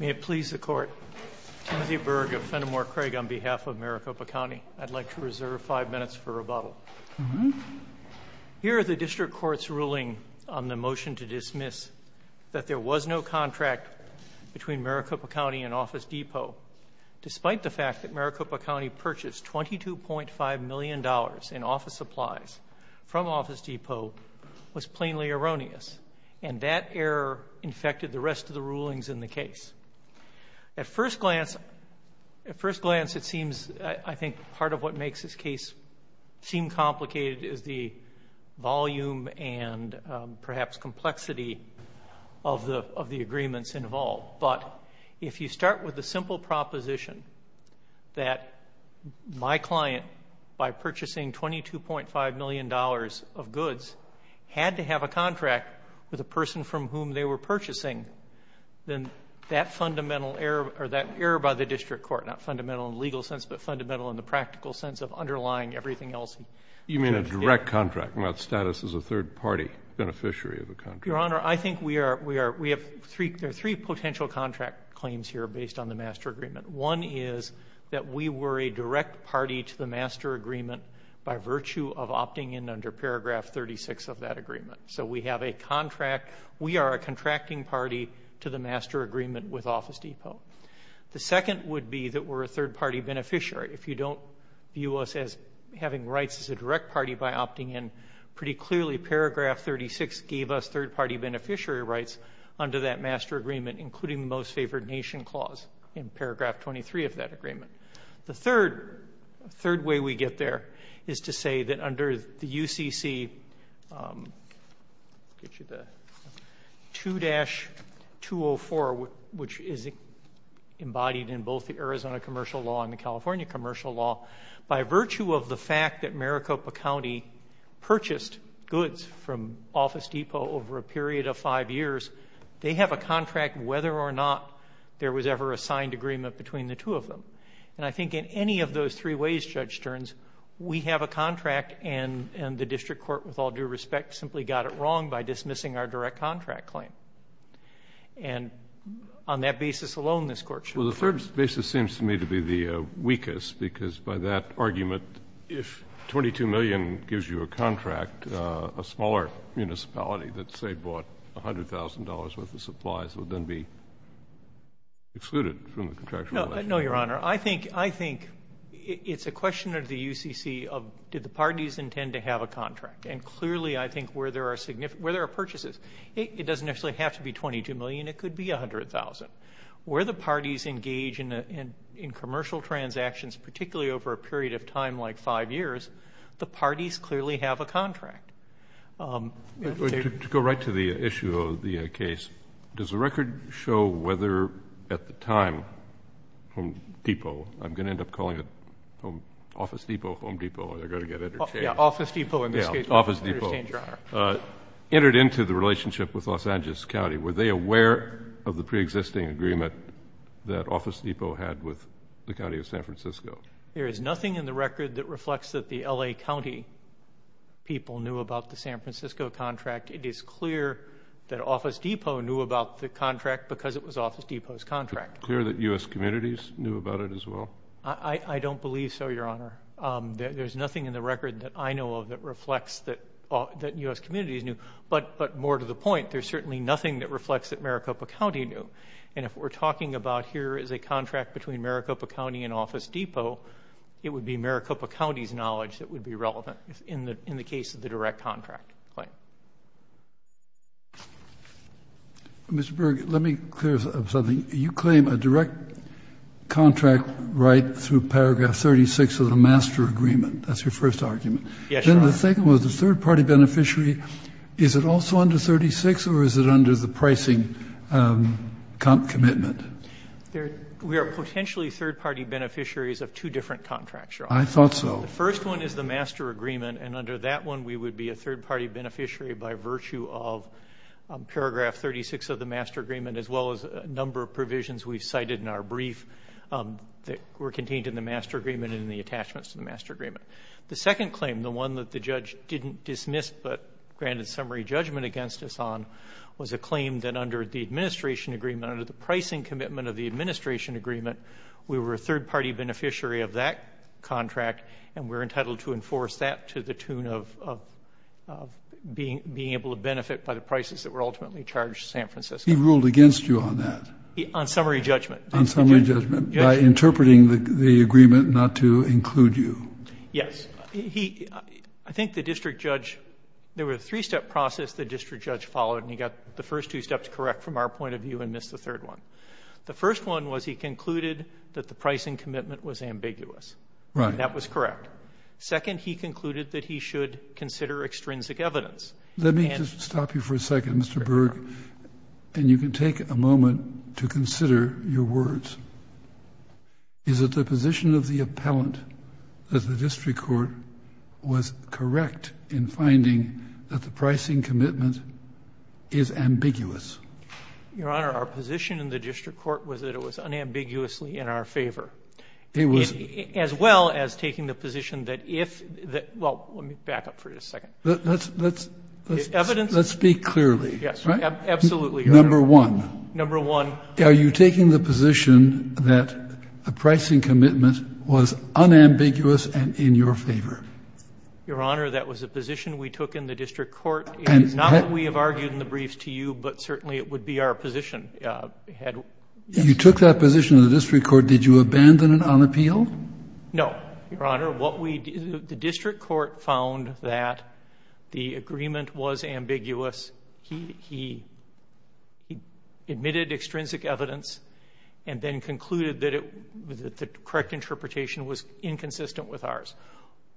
May it please the Court, Timothy Berg of Fenimore Craig on behalf of Maricopa County. I'd like to reserve five minutes for rebuttal. Here are the District Court's ruling on the motion to dismiss that there was no contract between Maricopa County and Office Depot. Despite the fact that Maricopa County purchased $22.5 million in office supplies from Office Depot was plainly erroneous. And that error infected the rest of the rulings in the case. At first glance, it seems, I think part of what makes this case seem complicated is the volume and perhaps complexity of the agreements involved. But if you start with the simple proposition that my client, by purchasing $22.5 million of goods, had to have a contract with a person from whom they were purchasing, then that error by the District Court, not fundamental in the legal sense, but fundamental in the practical sense of underlying everything else. You mean a direct contract without status as a third-party beneficiary of a contract? Your Honor, I think we have three potential contract claims here based on the master agreement. One is that we were a direct party to the master agreement by virtue of opting in under paragraph 36 of that agreement. So we have a contract. We are a contracting party to the master agreement with Office Depot. The second would be that we're a third-party beneficiary. If you don't view us as having rights as a direct party by opting in, pretty clearly paragraph 36 gave us third-party beneficiary rights under that master agreement, including the Most Favored Nation Clause in paragraph 23 of that agreement. The third way we get there is to say that under the UCC 2-204, which is embodied in both the Arizona commercial law and the California commercial law, by virtue of the fact that Maricopa County purchased goods from Office Depot over a period of five years, they have a contract whether or not there was ever a signed agreement between the two of them. And I think in any of those three ways, Judge Stearns, we have a contract and the district court with all due respect simply got it wrong by dismissing our direct contract claim. And on that basis alone, this Court should apply. Well, the third basis seems to me to be the weakest, because by that argument, if $22 million gives you a contract, a smaller municipality that, say, bought $100,000 worth of supplies would then be excluded from the contractual relationship. No, Your Honor. I think it's a question of the UCC of did the parties intend to have a contract. And clearly I think where there are purchases, it doesn't necessarily have to be $22 million. It could be $100,000. But where the parties engage in commercial transactions, particularly over a period of time like five years, the parties clearly have a contract. To go right to the issue of the case, does the record show whether at the time Home Depot, I'm going to end up calling it Office Depot, Home Depot, they're going to get interchanged. Yeah, Office Depot in this case. Yeah, Office Depot. I understand, Your Honor. Entered into the relationship with Los Angeles County, were they aware of the preexisting agreement that Office Depot had with the County of San Francisco? There is nothing in the record that reflects that the L.A. County people knew about the San Francisco contract. It is clear that Office Depot knew about the contract because it was Office Depot's contract. Is it clear that U.S. communities knew about it as well? I don't believe so, Your Honor. There's nothing in the record that I know of that reflects that U.S. communities knew. But more to the point, there's certainly nothing that reflects that Maricopa County knew. And if we're talking about here is a contract between Maricopa County and Office Depot, it would be Maricopa County's knowledge that would be relevant in the case of the direct contract claim. Mr. Berg, let me clear up something. You claim a direct contract right through paragraph 36 of the master agreement. That's your first argument. Yes, Your Honor. Then the second was a third-party beneficiary. Is it also under 36 or is it under the pricing commitment? We are potentially third-party beneficiaries of two different contracts, Your Honor. I thought so. The first one is the master agreement, and under that one we would be a third-party beneficiary by virtue of paragraph 36 of the master agreement as well as a number of provisions we've cited in our brief that were contained in the master agreement and in the attachments to the master agreement. The second claim, the one that the judge didn't dismiss but granted summary judgment against us on, was a claim that under the administration agreement, under the pricing commitment of the administration agreement, we were a third-party beneficiary of that contract and we're entitled to enforce that to the tune of being able to benefit by the prices that were ultimately charged to San Francisco. He ruled against you on that. On summary judgment. On summary judgment, by interpreting the agreement not to include you. Yes. He — I think the district judge — there was a three-step process the district judge followed, and he got the first two steps correct from our point of view and missed the third one. The first one was he concluded that the pricing commitment was ambiguous. Right. That was correct. Second, he concluded that he should consider extrinsic evidence. Let me just stop you for a second, Mr. Berg. And you can take a moment to consider your words. Is it the position of the appellant that the district court was correct in finding that the pricing commitment is ambiguous? Your Honor, our position in the district court was that it was unambiguously in our favor. It was. As well as taking the position that if — well, let me back up for just a second. Let's speak clearly. Yes. Absolutely, Your Honor. Number one. Number one. Are you taking the position that the pricing commitment was unambiguous and in your favor? Your Honor, that was a position we took in the district court. And not that we have argued in the briefs to you, but certainly it would be our position. You took that position in the district court. Did you abandon it on appeal? No. Your Honor, what we — the district court found that the agreement was ambiguous. He admitted extrinsic evidence and then concluded that the correct interpretation was inconsistent with ours.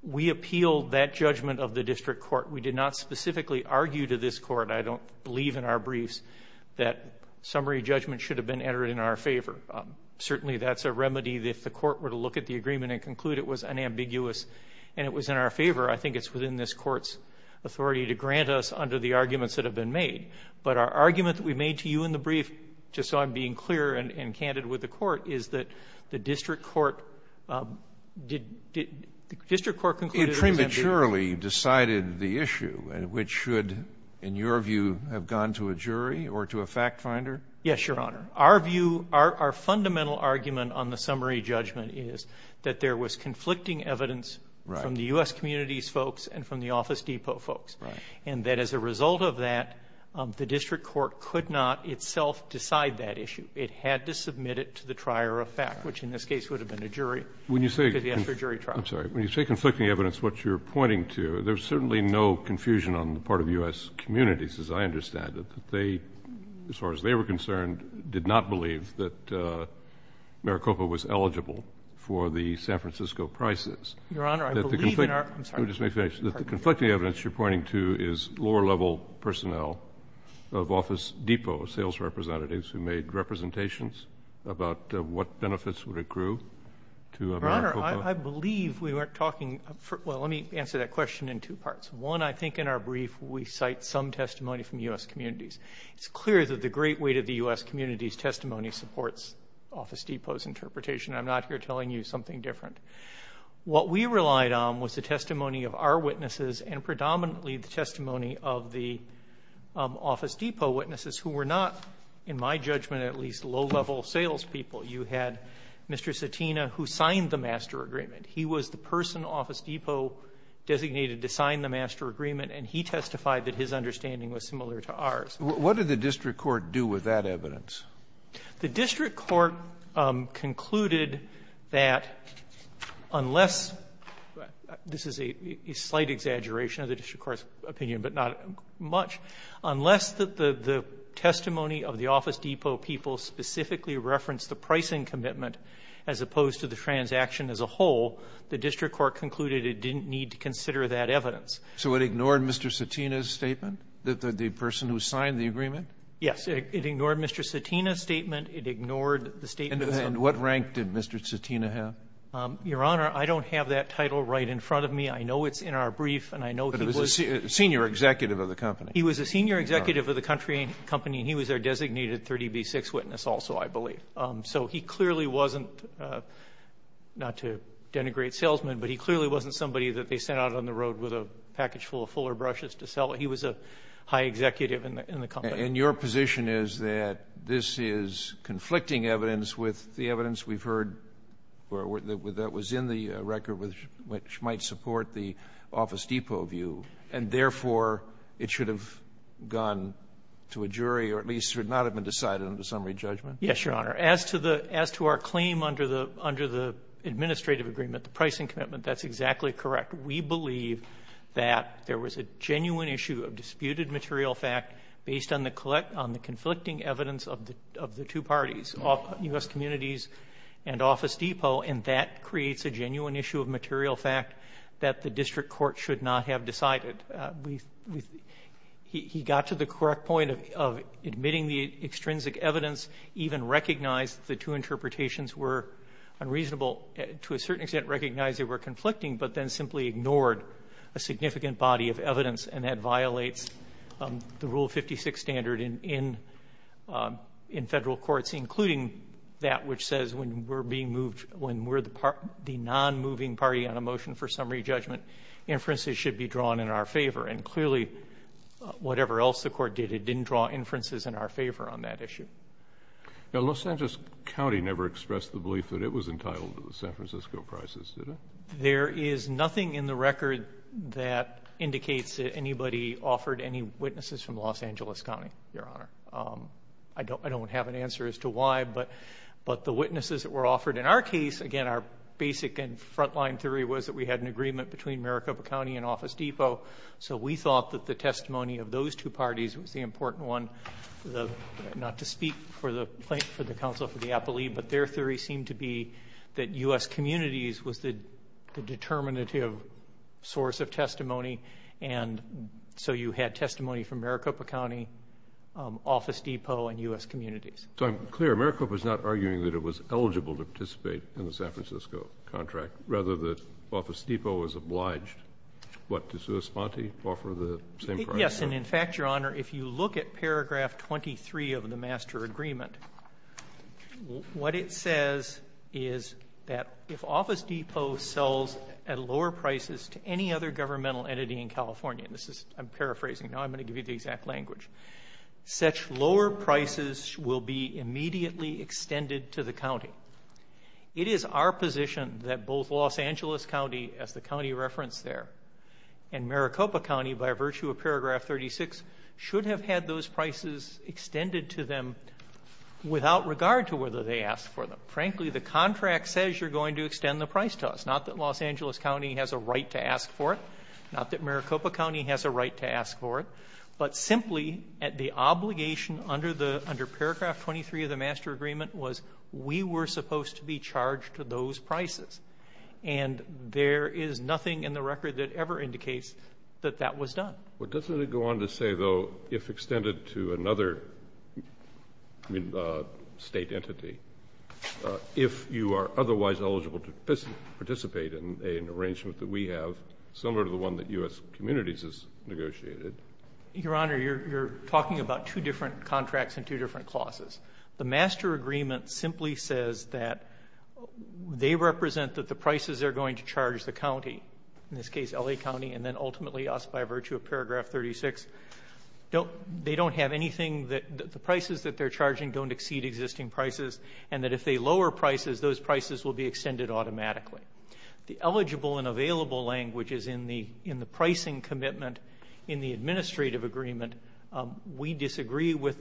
We appealed that judgment of the district court. We did not specifically argue to this court, I don't believe in our briefs, that summary judgment should have been entered in our favor. Certainly that's a remedy that if the court were to look at the agreement and conclude it was unambiguous and it was in our favor, I think it's within this But our argument that we made to you in the brief, just so I'm being clear and candid with the court, is that the district court — the district court concluded — It prematurely decided the issue, which should, in your view, have gone to a jury or to a fact finder? Yes, Your Honor. Our view, our fundamental argument on the summary judgment is that there was conflicting evidence from the U.S. community's folks and from the office depot folks. Right. And that as a result of that, the district court could not itself decide that issue. It had to submit it to the trier of fact, which in this case would have been a jury trial. I'm sorry. When you say conflicting evidence, what you're pointing to, there's certainly no confusion on the part of U.S. communities, as I understand it, that they, as far as they were concerned, did not believe that Maricopa was eligible for the San Francisco prices. Your Honor, I believe in our — I'm sorry. You just may finish. The conflicting evidence you're pointing to is lower-level personnel of office depot sales representatives who made representations about what benefits would accrue to Maricopa. Your Honor, I believe we weren't talking — well, let me answer that question in two parts. One, I think in our brief we cite some testimony from U.S. communities. It's clear that the great weight of the U.S. community's testimony supports office depot's interpretation. I'm not here telling you something different. What we relied on was the testimony of our witnesses and predominantly the testimony of the office depot witnesses who were not, in my judgment, at least low-level salespeople. You had Mr. Satina, who signed the master agreement. He was the person office depot designated to sign the master agreement, and he testified that his understanding was similar to ours. What did the district court do with that evidence? The district court concluded that unless — this is a slight exaggeration of the district court's opinion, but not much — unless the testimony of the office depot people specifically referenced the pricing commitment as opposed to the transaction as a whole, the district court concluded it didn't need to consider that evidence. So it ignored Mr. Satina's statement, the person who signed the agreement? Yes. It ignored Mr. Satina's statement. It ignored the statement of the — And what rank did Mr. Satina have? Your Honor, I don't have that title right in front of me. I know it's in our brief, and I know he was — But he was a senior executive of the company. He was a senior executive of the company, and he was our designated 30B6 witness also, I believe. So he clearly wasn't — not to denigrate salesmen, but he clearly wasn't somebody that they sent out on the road with a package full of fuller brushes to sell. He was a high executive in the company. And your position is that this is conflicting evidence with the evidence we've heard that was in the record with — which might support the office depot view, and therefore, it should have gone to a jury or at least should not have been decided under summary judgment? Yes, Your Honor. As to the — as to our claim under the — under the administrative agreement, the pricing commitment, that's exactly correct. We believe that there was a genuine issue of disputed material fact based on the conflicting evidence of the two parties, U.S. Communities and Office Depot, and that creates a genuine issue of material fact that the district court should not have decided. He got to the correct point of admitting the extrinsic evidence, even recognize the two interpretations were unreasonable, to a certain extent recognize they were a significant body of evidence and that violates the Rule 56 standard in federal courts, including that which says when we're being moved — when we're the non-moving party on a motion for summary judgment, inferences should be drawn in our favor. And clearly, whatever else the court did, it didn't draw inferences in our favor on that issue. Now, Los Angeles County never expressed the belief that it was entitled to the San Francisco prices, did it? There is nothing in the record that indicates that anybody offered any witnesses from Los Angeles County, Your Honor. I don't have an answer as to why, but the witnesses that were offered in our case, again, our basic and frontline theory was that we had an agreement between Maricopa County and Office Depot, so we thought that the testimony of those two parties was the important one. Not to speak for the counsel for the appellee, but their theory seemed to be that U.S. communities was the determinative source of testimony, and so you had testimony from Maricopa County, Office Depot, and U.S. communities. So I'm clear. Maricopa is not arguing that it was eligible to participate in the San Francisco contract. Rather, the Office Depot was obliged, what, to sui sponte, offer the same price? Yes. And in fact, Your Honor, if you look at paragraph 23 of the master agreement, what it says is that if Office Depot sells at lower prices to any other governmental entity in California, this is, I'm paraphrasing, now I'm going to give you the exact language, such lower prices will be immediately extended to the county. It is our position that both Los Angeles County, as the county referenced there, and Maricopa County, by virtue of paragraph 36, should have had those prices extended to them without regard to whether they asked for them. Frankly, the contract says you're going to extend the price to us. Not that Los Angeles County has a right to ask for it. Not that Maricopa County has a right to ask for it. But simply, the obligation under paragraph 23 of the master agreement was we were supposed to be charged those prices. And there is nothing in the record that ever indicates that that was done. Well, doesn't it go on to say, though, if extended to another State entity, if you are otherwise eligible to participate in an arrangement that we have, similar to the one that U.S. Communities has negotiated? Your Honor, you're talking about two different contracts and two different clauses. The master agreement simply says that they represent that the prices they're going to charge the county, in this case L.A. County, and then ultimately us by virtue of paragraph 36. They don't have anything that the prices that they're charging don't exceed existing prices, and that if they lower prices, those prices will be extended automatically. The eligible and available language is in the pricing commitment in the administrative agreement. We disagree with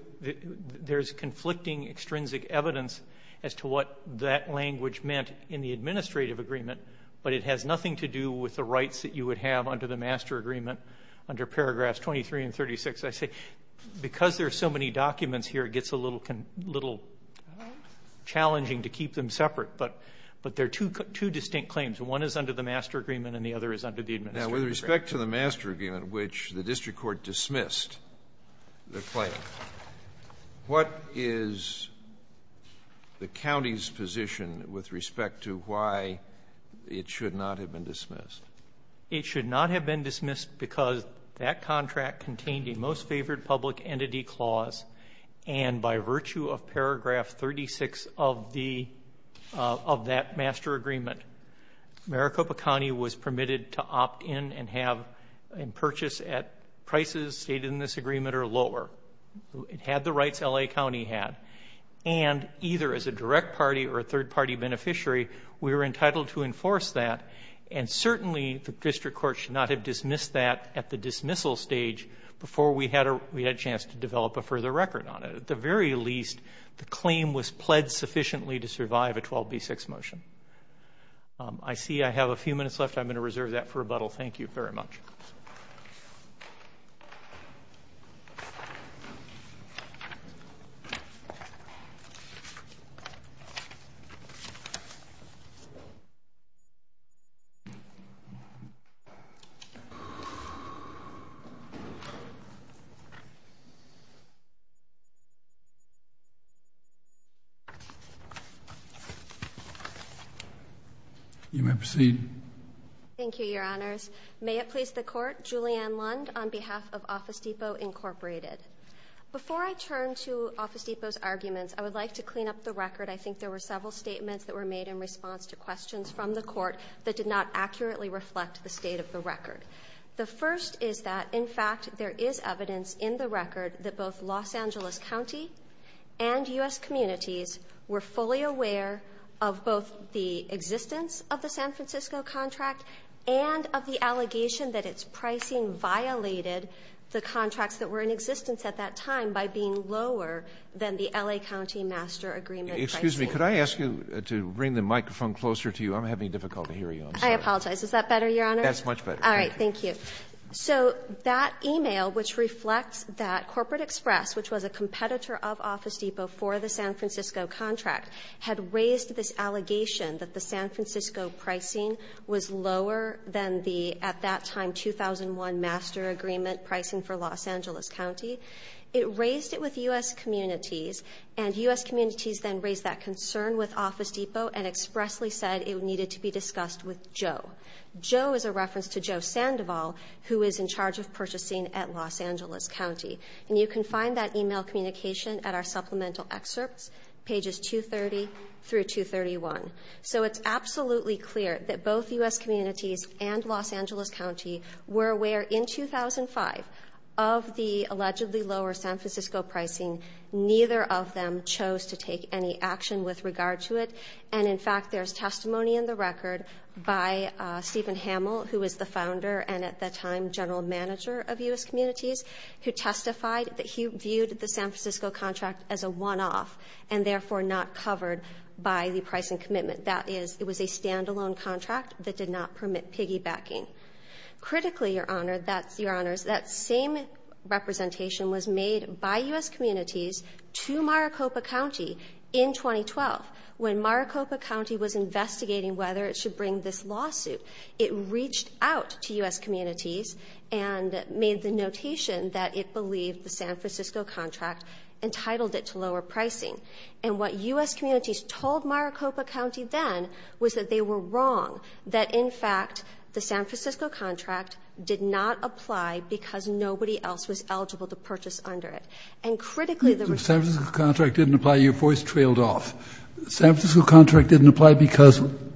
there's conflicting extrinsic evidence as to what that language meant in the administrative agreement, but it has nothing to do with the rights that you would have under the master agreement under paragraphs 23 and 36. I say because there are so many documents here, it gets a little challenging to keep them separate, but they're two distinct claims. One is under the master agreement and the other is under the administrative agreement. Now, with respect to the master agreement, which the district court dismissed the claim, what is the county's position with respect to why it should not have been dismissed? It should not have been dismissed because that contract contained a most favored public entity clause, and by virtue of paragraph 36 of the of that master agreement, Maricopa County was permitted to opt in and have a purchase at prices stated in the business agreement or lower. It had the rights L.A. County had, and either as a direct party or a third-party beneficiary, we were entitled to enforce that, and certainly the district court should not have dismissed that at the dismissal stage before we had a chance to develop a further record on it. At the very least, the claim was pledged sufficiently to survive a 12B6 motion. I see I have a few minutes left. I'm going to reserve that for rebuttal. Thank you very much. Thank you. You may proceed. Thank you, Your Honors. May it please the Court, Julianne Lund on behalf of Office Depot, Incorporated. Before I turn to Office Depot's arguments, I would like to clean up the record. I think there were several statements that were made in response to questions from the Court that did not accurately reflect the state of the record. The first is that, in fact, there is evidence in the record that both Los Angeles County and U.S. communities were fully aware of both the existence of the San Francisco contract and of the allegation that its pricing violated the contracts that were in existence at that time by being lower than the L.A. County master agreement pricing. Excuse me. Could I ask you to bring the microphone closer to you? I'm having difficulty hearing you. I'm sorry. I apologize. Is that better, Your Honor? That's much better. All right. Thank you. So that e-mail, which reflects that Corporate Express, which was a competitor of Office Depot for the San Francisco contract, had raised this allegation that the San Francisco pricing was lower than the, at that time, 2001 master agreement pricing for Los Angeles County. It raised it with U.S. communities, and U.S. communities then raised that concern with Office Depot and expressly said it needed to be discussed with Joe. Joe is a reference to Joe Sandoval, who is in charge of purchasing at Los Angeles County. And you can find that e-mail communication at our supplemental excerpts, pages 230 through 231. So it's absolutely clear that both U.S. communities and Los Angeles County were aware in 2005 of the allegedly lower San Francisco pricing. Neither of them chose to take any action with regard to it. And, in fact, there's testimony in the record by Stephen Hamill, who is the founder and, at that time, general manager of U.S. communities, who testified that he viewed the San Francisco contract as a one-off and, therefore, not covered by the pricing commitment. That is, it was a standalone contract that did not permit piggybacking. Critically, Your Honor, that same representation was made by U.S. communities to Maricopa County in 2012. When Maricopa County was investigating whether it should bring this lawsuit, it reached out to U.S. communities and made the notation that it believed the San Francisco contract entitled it to lower pricing. And what U.S. communities told Maricopa County then was that they were wrong, that, in fact, the San Francisco contract did not apply because nobody else was eligible to purchase under it. And, critically, there was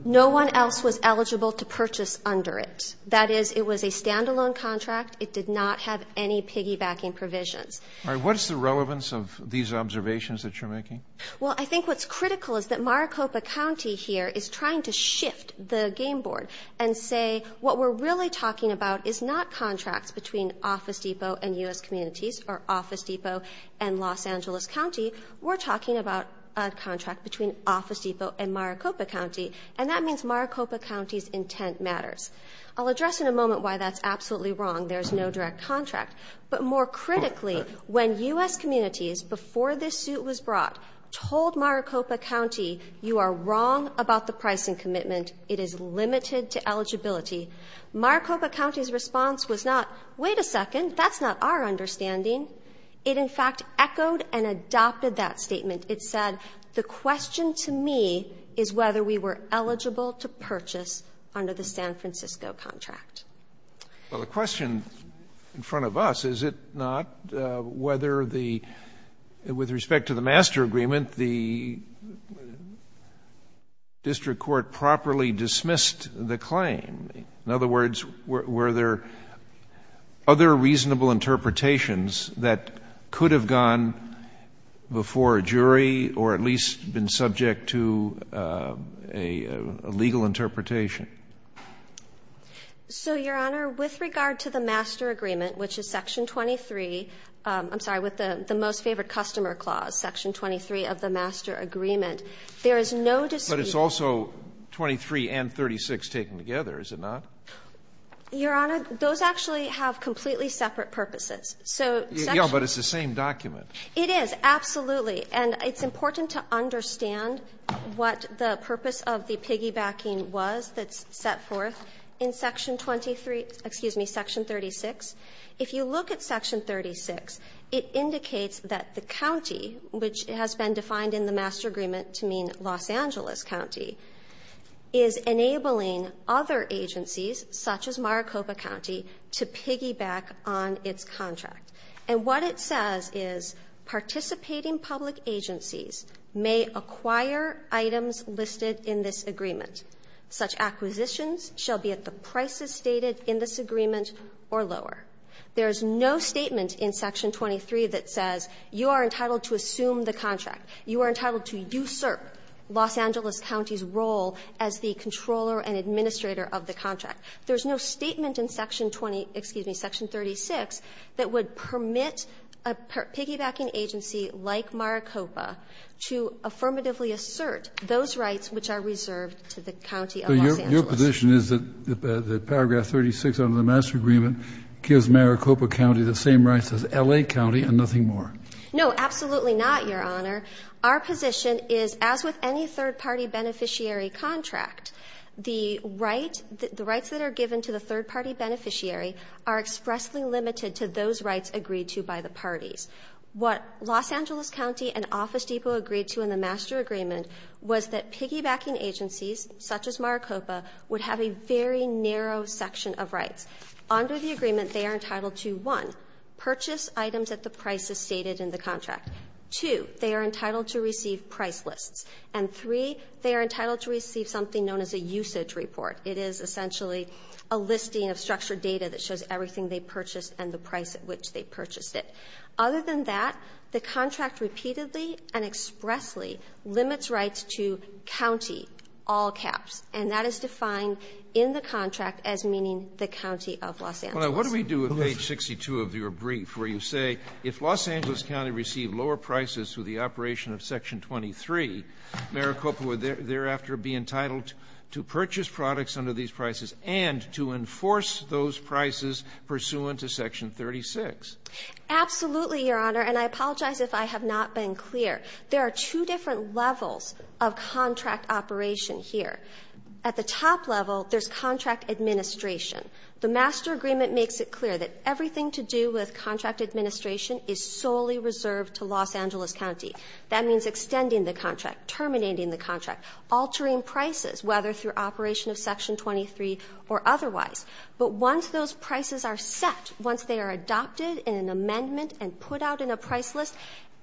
no one else was eligible to purchase under it. That is, it was a standalone contract. It did not have any piggybacking provisions. All right. What is the relevance of these observations that you're making? Well, I think what's critical is that Maricopa County here is trying to shift the game board and say what we're really talking about is not contracts between Office Depot and U.S. communities or Office Depot and Los Angeles County. We're talking about a contract between Office Depot and Maricopa County. And that means Maricopa County's intent matters. I'll address in a moment why that's absolutely wrong. There's no direct contract. But more critically, when U.S. communities, before this suit was brought, told Maricopa County, you are wrong about the pricing commitment. It is limited to eligibility. Maricopa County's response was not, wait a second, that's not our understanding. It, in fact, echoed and adopted that statement. It said the question to me is whether we were eligible to purchase under the San Francisco contract. Well, the question in front of us, is it not whether the — with respect to the master agreement, the district court properly dismissed the claim? In other words, were there other reasonable interpretations that could have gone before a jury or at least been subject to a legal interpretation? So, Your Honor, with regard to the master agreement, which is section 23, I'm sorry, with the most favored customer clause, section 23 of the master agreement, there is no dispute. But it's also 23 and 36 taken together, is it not? Your Honor, those actually have completely separate purposes. So section — Yeah, but it's the same document. It is, absolutely. And it's important to understand what the purpose of the piggybacking was that's set forth in section 23 — excuse me, section 36. If you look at section 36, it indicates that the county, which has been defined in the master agreement to mean Los Angeles County, is enabling other agencies such as Maricopa County to piggyback on its contract. And what it says is, participating public agencies may acquire items listed in this agreement. Such acquisitions shall be at the prices stated in this agreement or lower. There is no statement in section 23 that says you are entitled to assume the contract. You are entitled to usurp Los Angeles County's role as the controller and administrator of the contract. There is no statement in section 20 — excuse me, section 36 that would permit a piggybacking agency like Maricopa to affirmatively assert those rights which are reserved to the county of Los Angeles. So your position is that paragraph 36 under the master agreement gives Maricopa County the same rights as L.A. County and nothing more? No, absolutely not, Your Honor. Our position is, as with any third-party beneficiary contract, the rights that are given to the third-party beneficiary are expressly limited to those rights agreed to by the parties. What Los Angeles County and Office Depot agreed to in the master agreement was that piggybacking agencies such as Maricopa would have a very narrow section of rights. Under the agreement, they are entitled to, one, purchase items at the prices stated in the contract. Two, they are entitled to receive price lists. And, three, they are entitled to receive something known as a usage report. It is essentially a listing of structured data that shows everything they purchased and the price at which they purchased it. Other than that, the contract repeatedly and expressly limits rights to COUNTY, all caps. And that is defined in the contract as meaning the county of Los Angeles. Scalia, what do we do at page 62 of your brief where you say, if Los Angeles County received lower prices through the operation of section 23, Maricopa would thereafter be entitled to purchase products under these prices and to enforce those prices pursuant to section 36? Absolutely, Your Honor, and I apologize if I have not been clear. There are two different levels of contract operation here. At the top level, there's contract administration. The master agreement makes it clear that everything to do with contract administration is solely reserved to Los Angeles County. That means extending the contract, terminating the contract, altering prices, whether through operation of section 23 or otherwise. But once those prices are set, once they are adopted in an amendment and put out in a price list,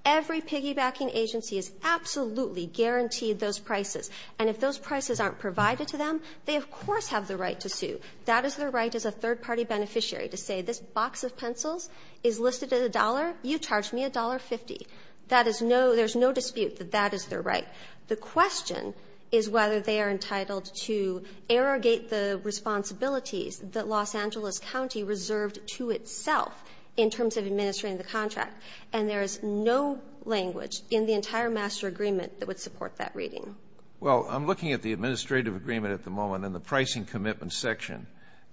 every piggybacking agency is absolutely guaranteed those prices. And if those prices aren't provided to them, they of course have the right to sue. That is their right as a third-party beneficiary to say, this box of pencils is listed at a dollar, you charge me $1.50. That is no – there's no dispute that that is their right. The question is whether they are entitled to arrogate the responsibilities that Los Angeles County reserved to itself in terms of administrating the contract. And there is no language in the entire master agreement that would support that reading. Well, I'm looking at the administrative agreement at the moment and the pricing commitment section.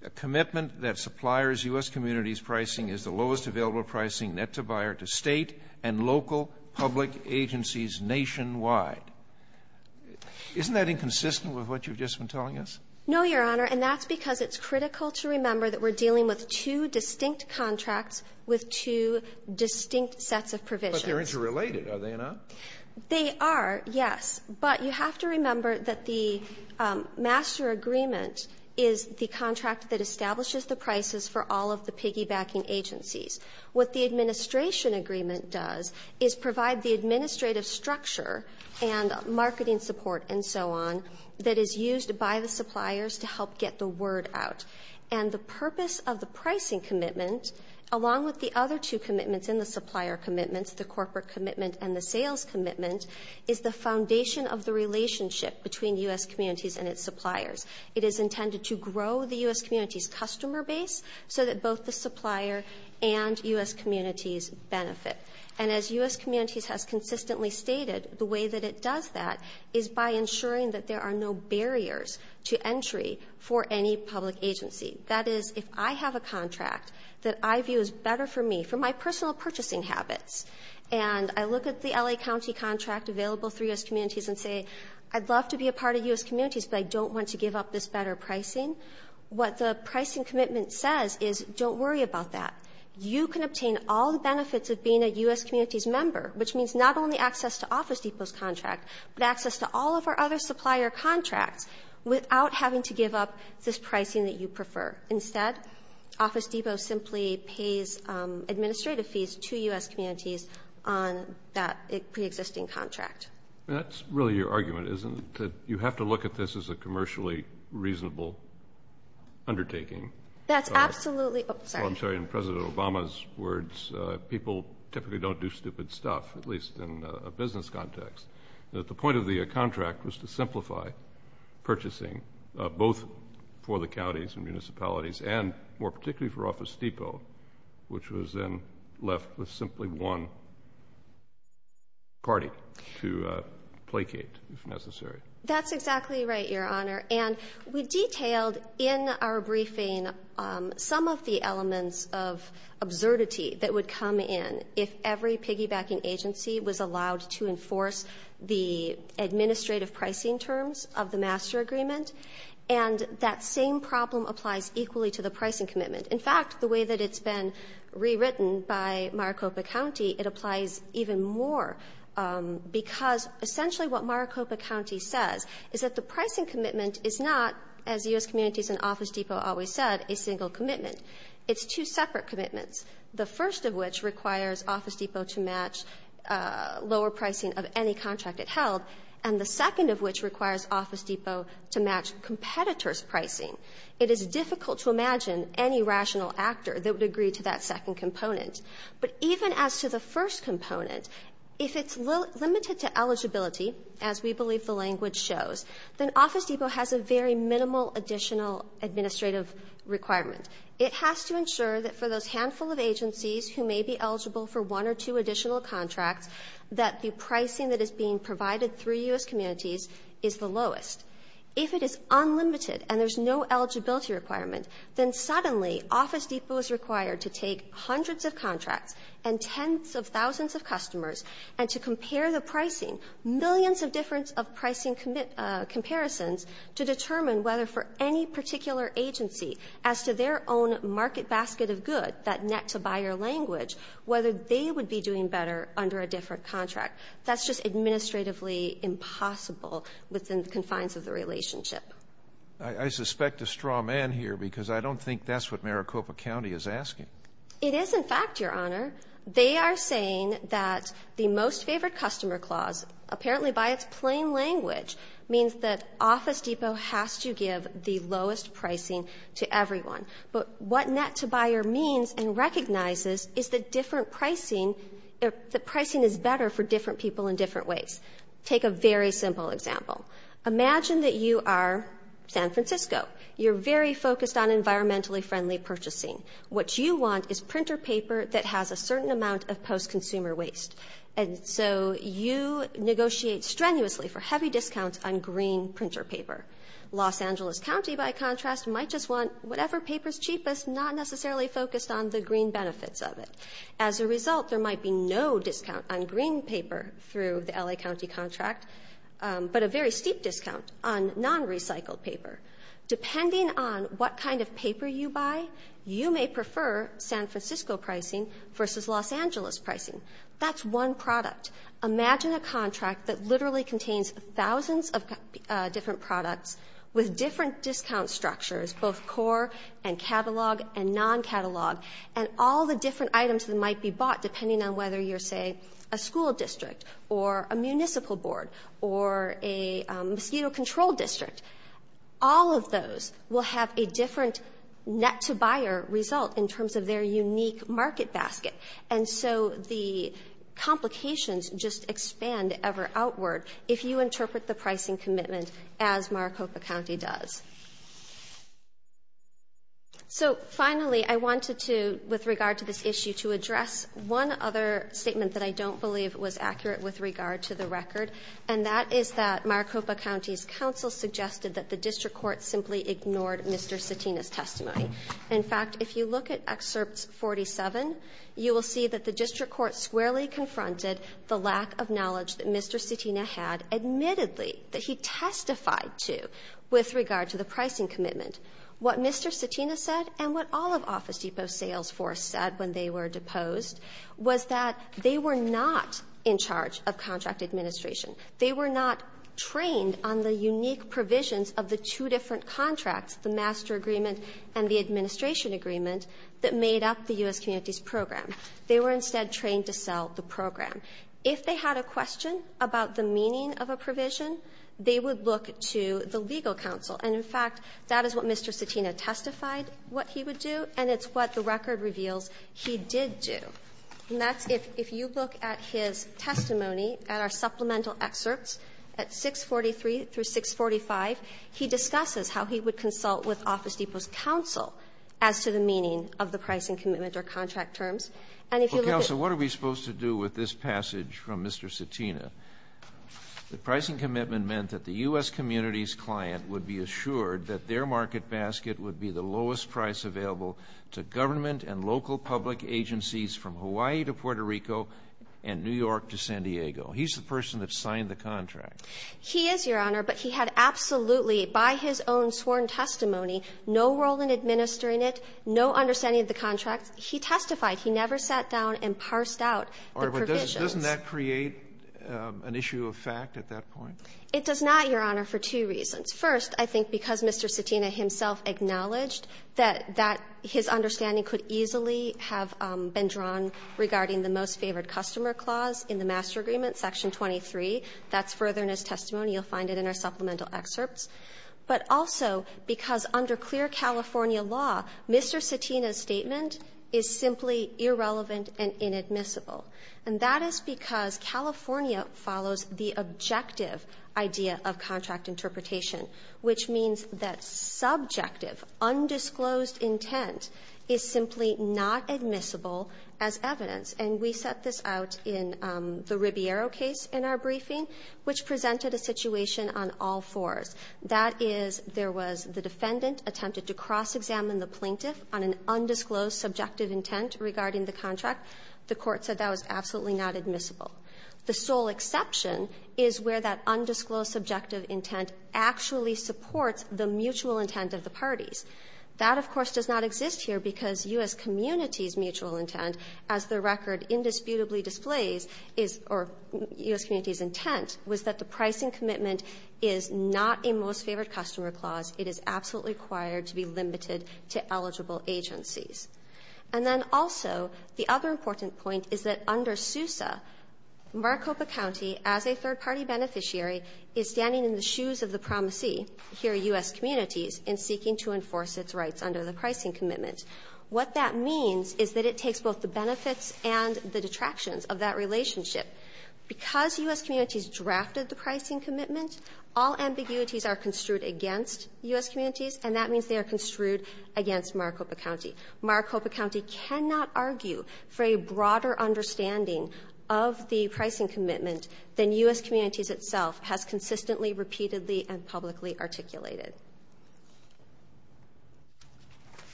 A commitment that suppliers' U.S. communities' pricing is the lowest available pricing net-to-buyer to State and local public agencies nationwide. Isn't that inconsistent with what you've just been telling us? No, Your Honor. And that's because it's critical to remember that we're dealing with two distinct contracts with two distinct sets of provisions. But they're interrelated, are they not? They are, yes. But you have to remember that the master agreement is the contract that establishes the prices for all of the piggybacking agencies. What the administration agreement does is provide the administrative structure and marketing support and so on that is used by the suppliers to help get the word out. And the purpose of the pricing commitment, along with the other two commitments in the supplier commitments, the corporate commitment and the sales commitment, is the foundation of the relationship between U.S. communities and its suppliers. It is intended to grow the U.S. community's customer base so that both the supplier and U.S. communities benefit. And as U.S. communities has consistently stated, the way that it does that is by ensuring that there are no barriers to entry for any public agency. That is, if I have a contract that I view is better for me for my personal purchasing habits, and I look at the L.A. County contract available through U.S. communities and say, I'd love to be a part of U.S. communities, but I don't want to give up this better pricing, what the pricing commitment says is, don't worry about that. You can obtain all the benefits of being a U.S. community's member, which means not only access to Office Depot's contract, but access to all of our other supplier contracts without having to give up this pricing that you prefer. Instead, Office Depot simply pays administrative fees to U.S. communities on that preexisting contract. That's really your argument, isn't it, that you have to look at this as a commercially reasonable undertaking? That's absolutely. I'm sorry, in President Obama's words, people typically don't do stupid stuff, at least in a business context. The point of the contract was to simplify purchasing, both for the counties and municipalities, and more particularly for Office Depot, which was then left with simply one party to placate, if necessary. That's exactly right, Your Honor, and we detailed in our briefing some of the elements of absurdity that would come in if every piggybacking agency was allowed to enforce the pricing commitment. In fact, the way that it's been rewritten by Maricopa County, it applies even more, because essentially what Maricopa County says is that the pricing commitment is not, as U.S. communities and Office Depot always said, a single commitment. It's two separate commitments, the first of which requires Office Depot to match lower pricing of any contract it held, and the second of which requires Office Depot to match competitors' pricing. It is difficult to imagine any rational actor that would agree to that second component. But even as to the first component, if it's limited to eligibility, as we believe the language shows, then Office Depot has a very minimal additional administrative requirement. It has to ensure that for those handful of agencies who may be eligible for one or two additional contracts, that the pricing that is being provided through U.S. communities is the lowest. If it is unlimited and there's no eligibility requirement, then suddenly Office Depot is required to take hundreds of contracts and tens of thousands of customers and to compare the pricing, millions of difference of pricing comparisons, to determine whether for any particular agency as to their own market basket of good, that net-to-buyer language, whether they would be doing better under a different contract, that's just administratively impossible within the confines of the relationship. I suspect a straw man here because I don't think that's what Maricopa County is asking. It is, in fact, Your Honor. They are saying that the Most Favored Customer Clause, apparently by its plain language, means that Office Depot has to give the lowest pricing to everyone. But what net-to-buyer means and recognizes is the different pricing, the pricing is better for different people in different ways. Take a very simple example. Imagine that you are San Francisco. You're very focused on environmentally friendly purchasing. What you want is printer paper that has a certain amount of post-consumer waste. And so you negotiate strenuously for heavy discounts on green printer paper. Los Angeles County, by contrast, might just want whatever paper is cheapest, not necessarily focused on the green benefits of it. As a result, there might be no discount on green paper through the L.A. County contract, but a very steep discount on non-recycled paper. Depending on what kind of paper you buy, you may prefer San Francisco pricing versus Los Angeles pricing. That's one product. Imagine a contract that literally contains thousands of different products with different discount structures, both core and catalog and non-catalog, and all the different items that might be bought depending on whether you're, say, a school district or a municipal board or a mosquito control district. All of those will have a different net-to-buyer result in terms of their unique market basket. And so the complications just expand ever outward if you interpret the pricing commitment as Maricopa County does. So, finally, I wanted to, with regard to this issue, to address one other statement that I don't believe was accurate with regard to the record, and that is that Maricopa County's counsel suggested that the district court simply ignored Mr. Cetina's testimony. In fact, if you look at Excerpt 47, you will see that the district court squarely confronted the lack of knowledge that Mr. Cetina had, admittedly, that he testified to with regard to the pricing commitment. What Mr. Cetina said and what all of Office Depot's sales force said when they were deposed was that they were not in charge of contract administration. They were not trained on the unique provisions of the two different contracts, the master agreement and the administration agreement, that made up the U.S. Communities Program. They were instead trained to sell the program. If they had a question about the meaning of a provision, they would look to the legal counsel. And, in fact, that is what Mr. Cetina testified what he would do, and it's what the record reveals he did do. And that's if you look at his testimony at our supplemental excerpts at 643 through 645, he discusses how he would consult with Office Depot's counsel as to the meaning of the pricing commitment or contract terms. And if you look at the next paragraph, it says, Well, Counsel, what are we supposed to do with this passage from Mr. Cetina? The pricing commitment meant that the U.S. Communities client would be assured that their market basket would be the lowest price available to government and local public agencies from Hawaii to Puerto Rico and New York to San Diego. He's the person that signed the contract. He is, Your Honor, but he had absolutely, by his own sworn testimony, no role in administering it, no understanding of the contract. He testified. He never sat down and parsed out the provisions. Roberts, doesn't that create an issue of fact at that point? It does not, Your Honor, for two reasons. First, I think because Mr. Cetina himself acknowledged that his understanding could easily have been drawn regarding the most favored customer clause in the master agreement, section 23. That's further in his testimony. You'll find it in our supplemental excerpts. But also because under clear California law, Mr. Cetina's statement is simply irrelevant and inadmissible. And that is because California follows the objective idea of contract interpretation, which means that subjective, undisclosed intent is simply not admissible as evidence. And we set this out in the Ribiero case in our briefing, which presented a situation on all fours. That is, there was the defendant attempted to cross-examine the plaintiff on an undisclosed subjective intent regarding the contract. The Court said that was absolutely not admissible. The sole exception is where that undisclosed subjective intent actually supports the mutual intent of the parties. That, of course, does not exist here because U.S. communities' mutual intent, as the record indisputably displays, is or U.S. communities' intent was that the pricing commitment is not a most-favored-customer clause. It is absolutely required to be limited to eligible agencies. And then also, the other important point is that under SUSA, Maricopa County, as a third-party beneficiary, is standing in the shoes of the promisee, here U.S. communities, in seeking to enforce its rights under the pricing commitment. What that means is that it takes both the benefits and the detractions of that relationship. Because U.S. communities drafted the pricing commitment, all ambiguities are construed against U.S. communities, and that means they are construed against Maricopa County. Maricopa County cannot argue for a broader understanding of the pricing commitment than U.S. communities itself has consistently, repeatedly, and publicly articulated.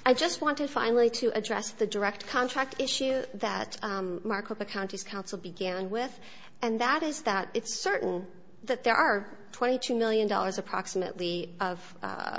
I just wanted, finally, to address the direct contract issue that Maricopa County's began with, and that is that it's certain that there are $22 million, approximately, of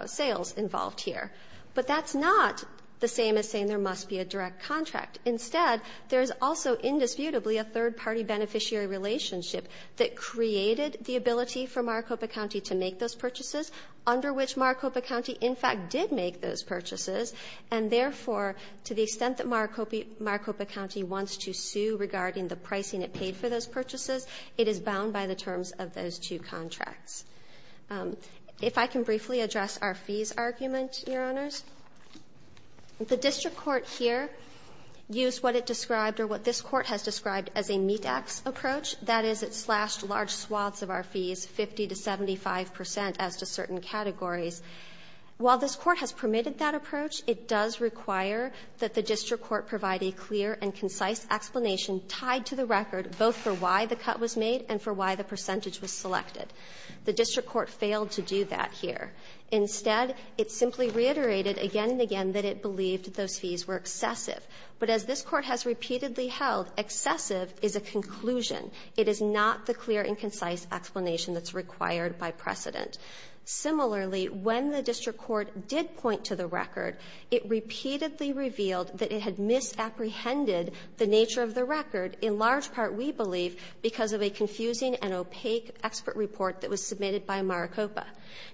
sales involved here. But that's not the same as saying there must be a direct contract. Instead, there's also indisputably a third-party beneficiary relationship that created the ability for Maricopa County to make those purchases, under which Maricopa County, in fact, did make those purchases. And therefore, to the extent that Maricopa County wants to sue regarding the pricing it paid for those purchases, it is bound by the terms of those two contracts. If I can briefly address our fees argument, Your Honors. The district court here used what it described, or what this court has described, as a meet-ax approach. That is, it slashed large swaths of our fees, 50 to 75% as to certain categories. While this court has permitted that approach, it does require that the district court provide a clear and concise explanation tied to the record, both for why the cut was made and for why the percentage was selected. The district court failed to do that here. Instead, it simply reiterated again and again that it believed those fees were excessive. But as this court has repeatedly held, excessive is a conclusion. It is not the clear and concise explanation that's required by precedent. Similarly, when the district court did point to the record, it repeatedly revealed that it had misapprehended the nature of the record, in large part, we believe, because of a confusing and opaque expert report that was submitted by Maricopa.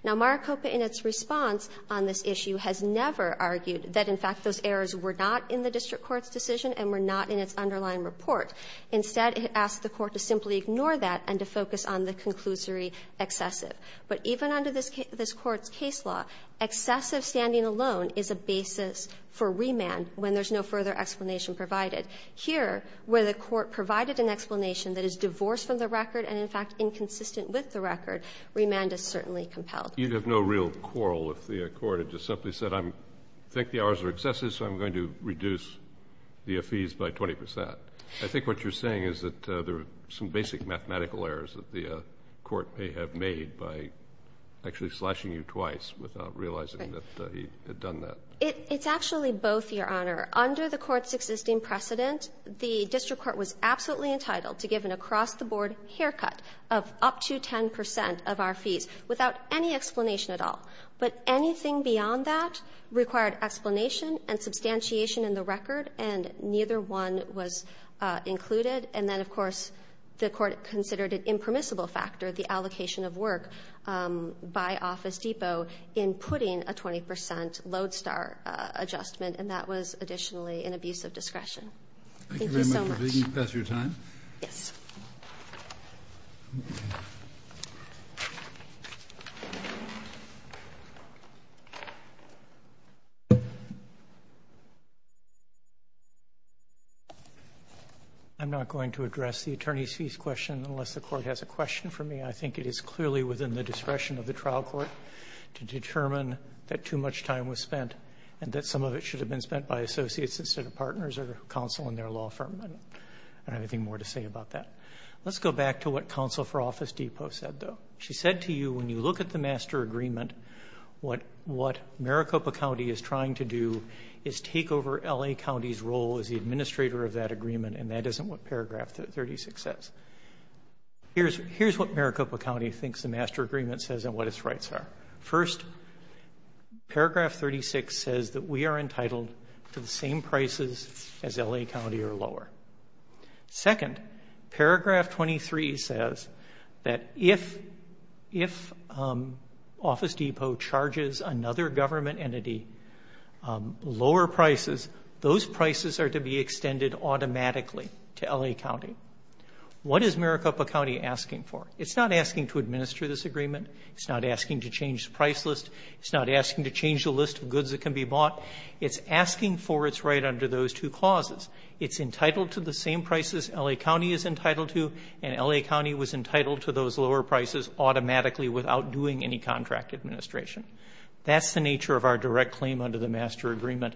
Now, Maricopa, in its response on this issue, has never argued that, in fact, those errors were not in the district court's decision and were not in its underlying report. Instead, it asked the court to simply ignore that and to focus on the conclusory excessive. But even under this court's case law, excessive standing alone is a basis for reasoning and for remand when there's no further explanation provided. Here, where the court provided an explanation that is divorced from the record and, in fact, inconsistent with the record, remand is certainly compelled. Kennedy, you'd have no real quarrel if the court had just simply said, I think the errors are excessive, so I'm going to reduce the fees by 20 percent. I think what you're saying is that there are some basic mathematical errors that the court may have made by actually slashing you twice without realizing that he had done that. It's actually both, Your Honor. Under the court's existing precedent, the district court was absolutely entitled to give an across-the-board haircut of up to 10 percent of our fees without any explanation at all. But anything beyond that required explanation and substantiation in the record, and neither one was included. And then, of course, the court considered an impermissible factor, the allocation of work by Office Depot in putting a 20 percent Lodestar adjustment, and that was additionally an abuse of discretion. Thank you so much. Thank you very much for taking the time. Yes. I'm not going to address the attorneys' fees question unless the court has a question for me. I think it is clearly within the discretion of the trial court to determine that too much time was spent and that some of it should have been spent by associates instead of partners or counsel in their law firm. I don't have anything more to say about that. Let's go back to what counsel for Office Depot said, though. She said to you, when you look at the master agreement, what Maricopa County is trying to do is take over L.A. County's role as the administrator of that agreement, and that isn't what paragraph 36 says. Here's what Maricopa County thinks the master agreement says and what its rights are. First, paragraph 36 says that we are entitled to the same prices as L.A. County or lower. Second, paragraph 23 says that if Office Depot charges another government entity lower prices, those prices are to be extended automatically to L.A. County. What is Maricopa County asking for? It's not asking to administer this agreement. It's not asking to change the price list. It's not asking to change the list of goods that can be bought. It's asking for its right under those two clauses. It's entitled to the same prices L.A. County is entitled to, and L.A. County was entitled to those lower prices automatically without doing any contract administration. That's the nature of our direct claim under the master agreement,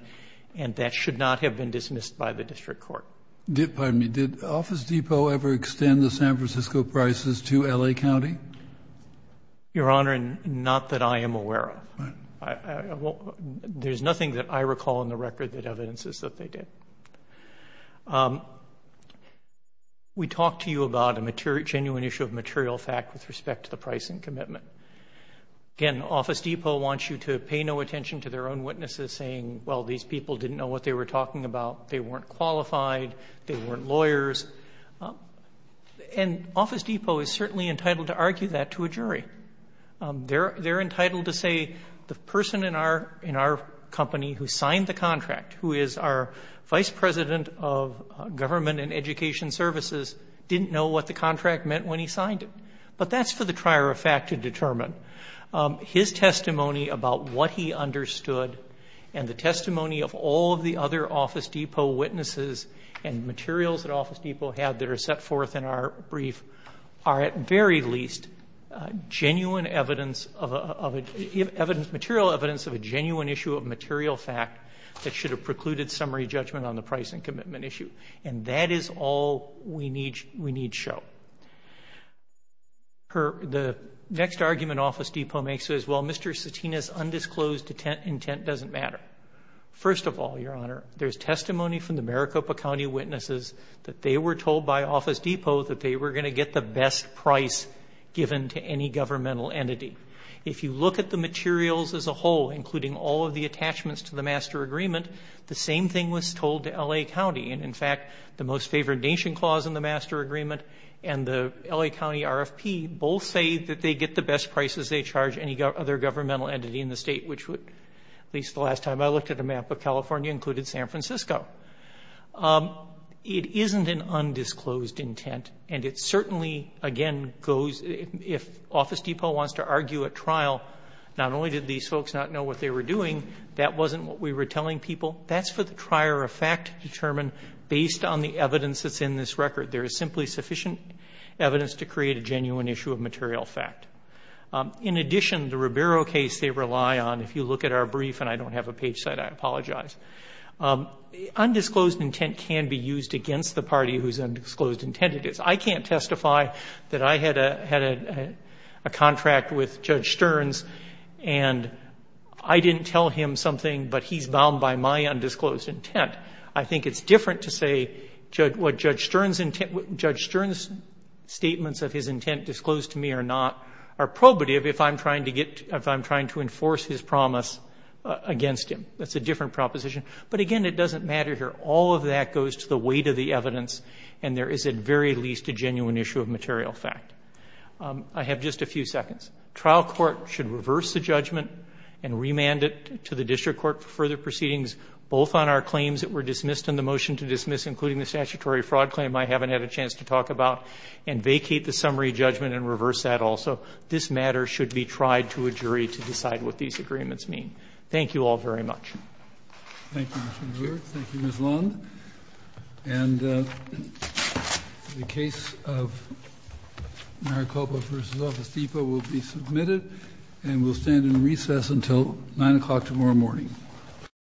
and that should not have been dismissed by the district court. Did, pardon me, did Office Depot ever extend the San Francisco prices to L.A. County? Your Honor, not that I am aware of. There's nothing that I recall in the record that evidences that they did. We talked to you about a genuine issue of material fact with respect to the price and commitment. Again, Office Depot wants you to pay no attention to their own witnesses saying, well, these people didn't know what they were talking about. They weren't qualified. They weren't lawyers. And Office Depot is certainly entitled to argue that to a jury. They're entitled to say the person in our company who signed the contract, who is our vice president of government and education services, didn't know what the contract meant when he signed it. But that's for the trier of fact to determine. His testimony about what he understood and the testimony of all of the other Office Depot witnesses and materials that Office Depot had that are set forth in our brief are, at very least, genuine evidence of a, material evidence of a genuine issue of material fact that should have precluded summary judgment on the price and commitment issue. And that is all we need show. The next argument Office Depot makes is, well, Mr. Satina's undisclosed intent doesn't matter. First of all, your honor, there's testimony from the Maricopa County witnesses that they were told by Office Depot that they were going to get the best price given to any governmental entity. If you look at the materials as a whole, including all of the attachments to the master agreement, the same thing was told to LA County. And in fact, the most favored nation clause in the master agreement and the LA County RFP both say that they get the best prices they charge any other governmental entity in the state. Which would, at least the last time I looked at a map of California, included San Francisco. It isn't an undisclosed intent. And it certainly, again, goes, if Office Depot wants to argue a trial, not only did these folks not know what they were doing, that wasn't what we were telling people. That's for the trier of fact to determine based on the evidence that's in this record. There is simply sufficient evidence to create a genuine issue of material fact. In addition, the Ribeiro case they rely on, if you look at our brief, and I don't have a page set, I apologize. Undisclosed intent can be used against the party whose undisclosed intent it is. I can't testify that I had a contract with Judge Stearns, and I didn't tell him something, but he's bound by my undisclosed intent. I think it's different to say what Judge Stearns' statements of his intent disclosed to me or not are probative if I'm trying to enforce his promise against him. That's a different proposition. But again, it doesn't matter here. All of that goes to the weight of the evidence, and there is at very least a genuine issue of material fact. I have just a few seconds. Trial court should reverse the judgment and remand it to the district court for further proceedings, both on our claims that were dismissed and the motion to dismiss, including the statutory fraud claim I haven't had a chance to talk about, and vacate the summary judgment and reverse that also. This matter should be tried to a jury to decide what these agreements mean. Thank you all very much. Thank you, Mr. Muir, thank you, Ms. Lund, and the case of Maricopa versus Office Depot will be submitted. And we'll stand in recess until 9 o'clock tomorrow morning.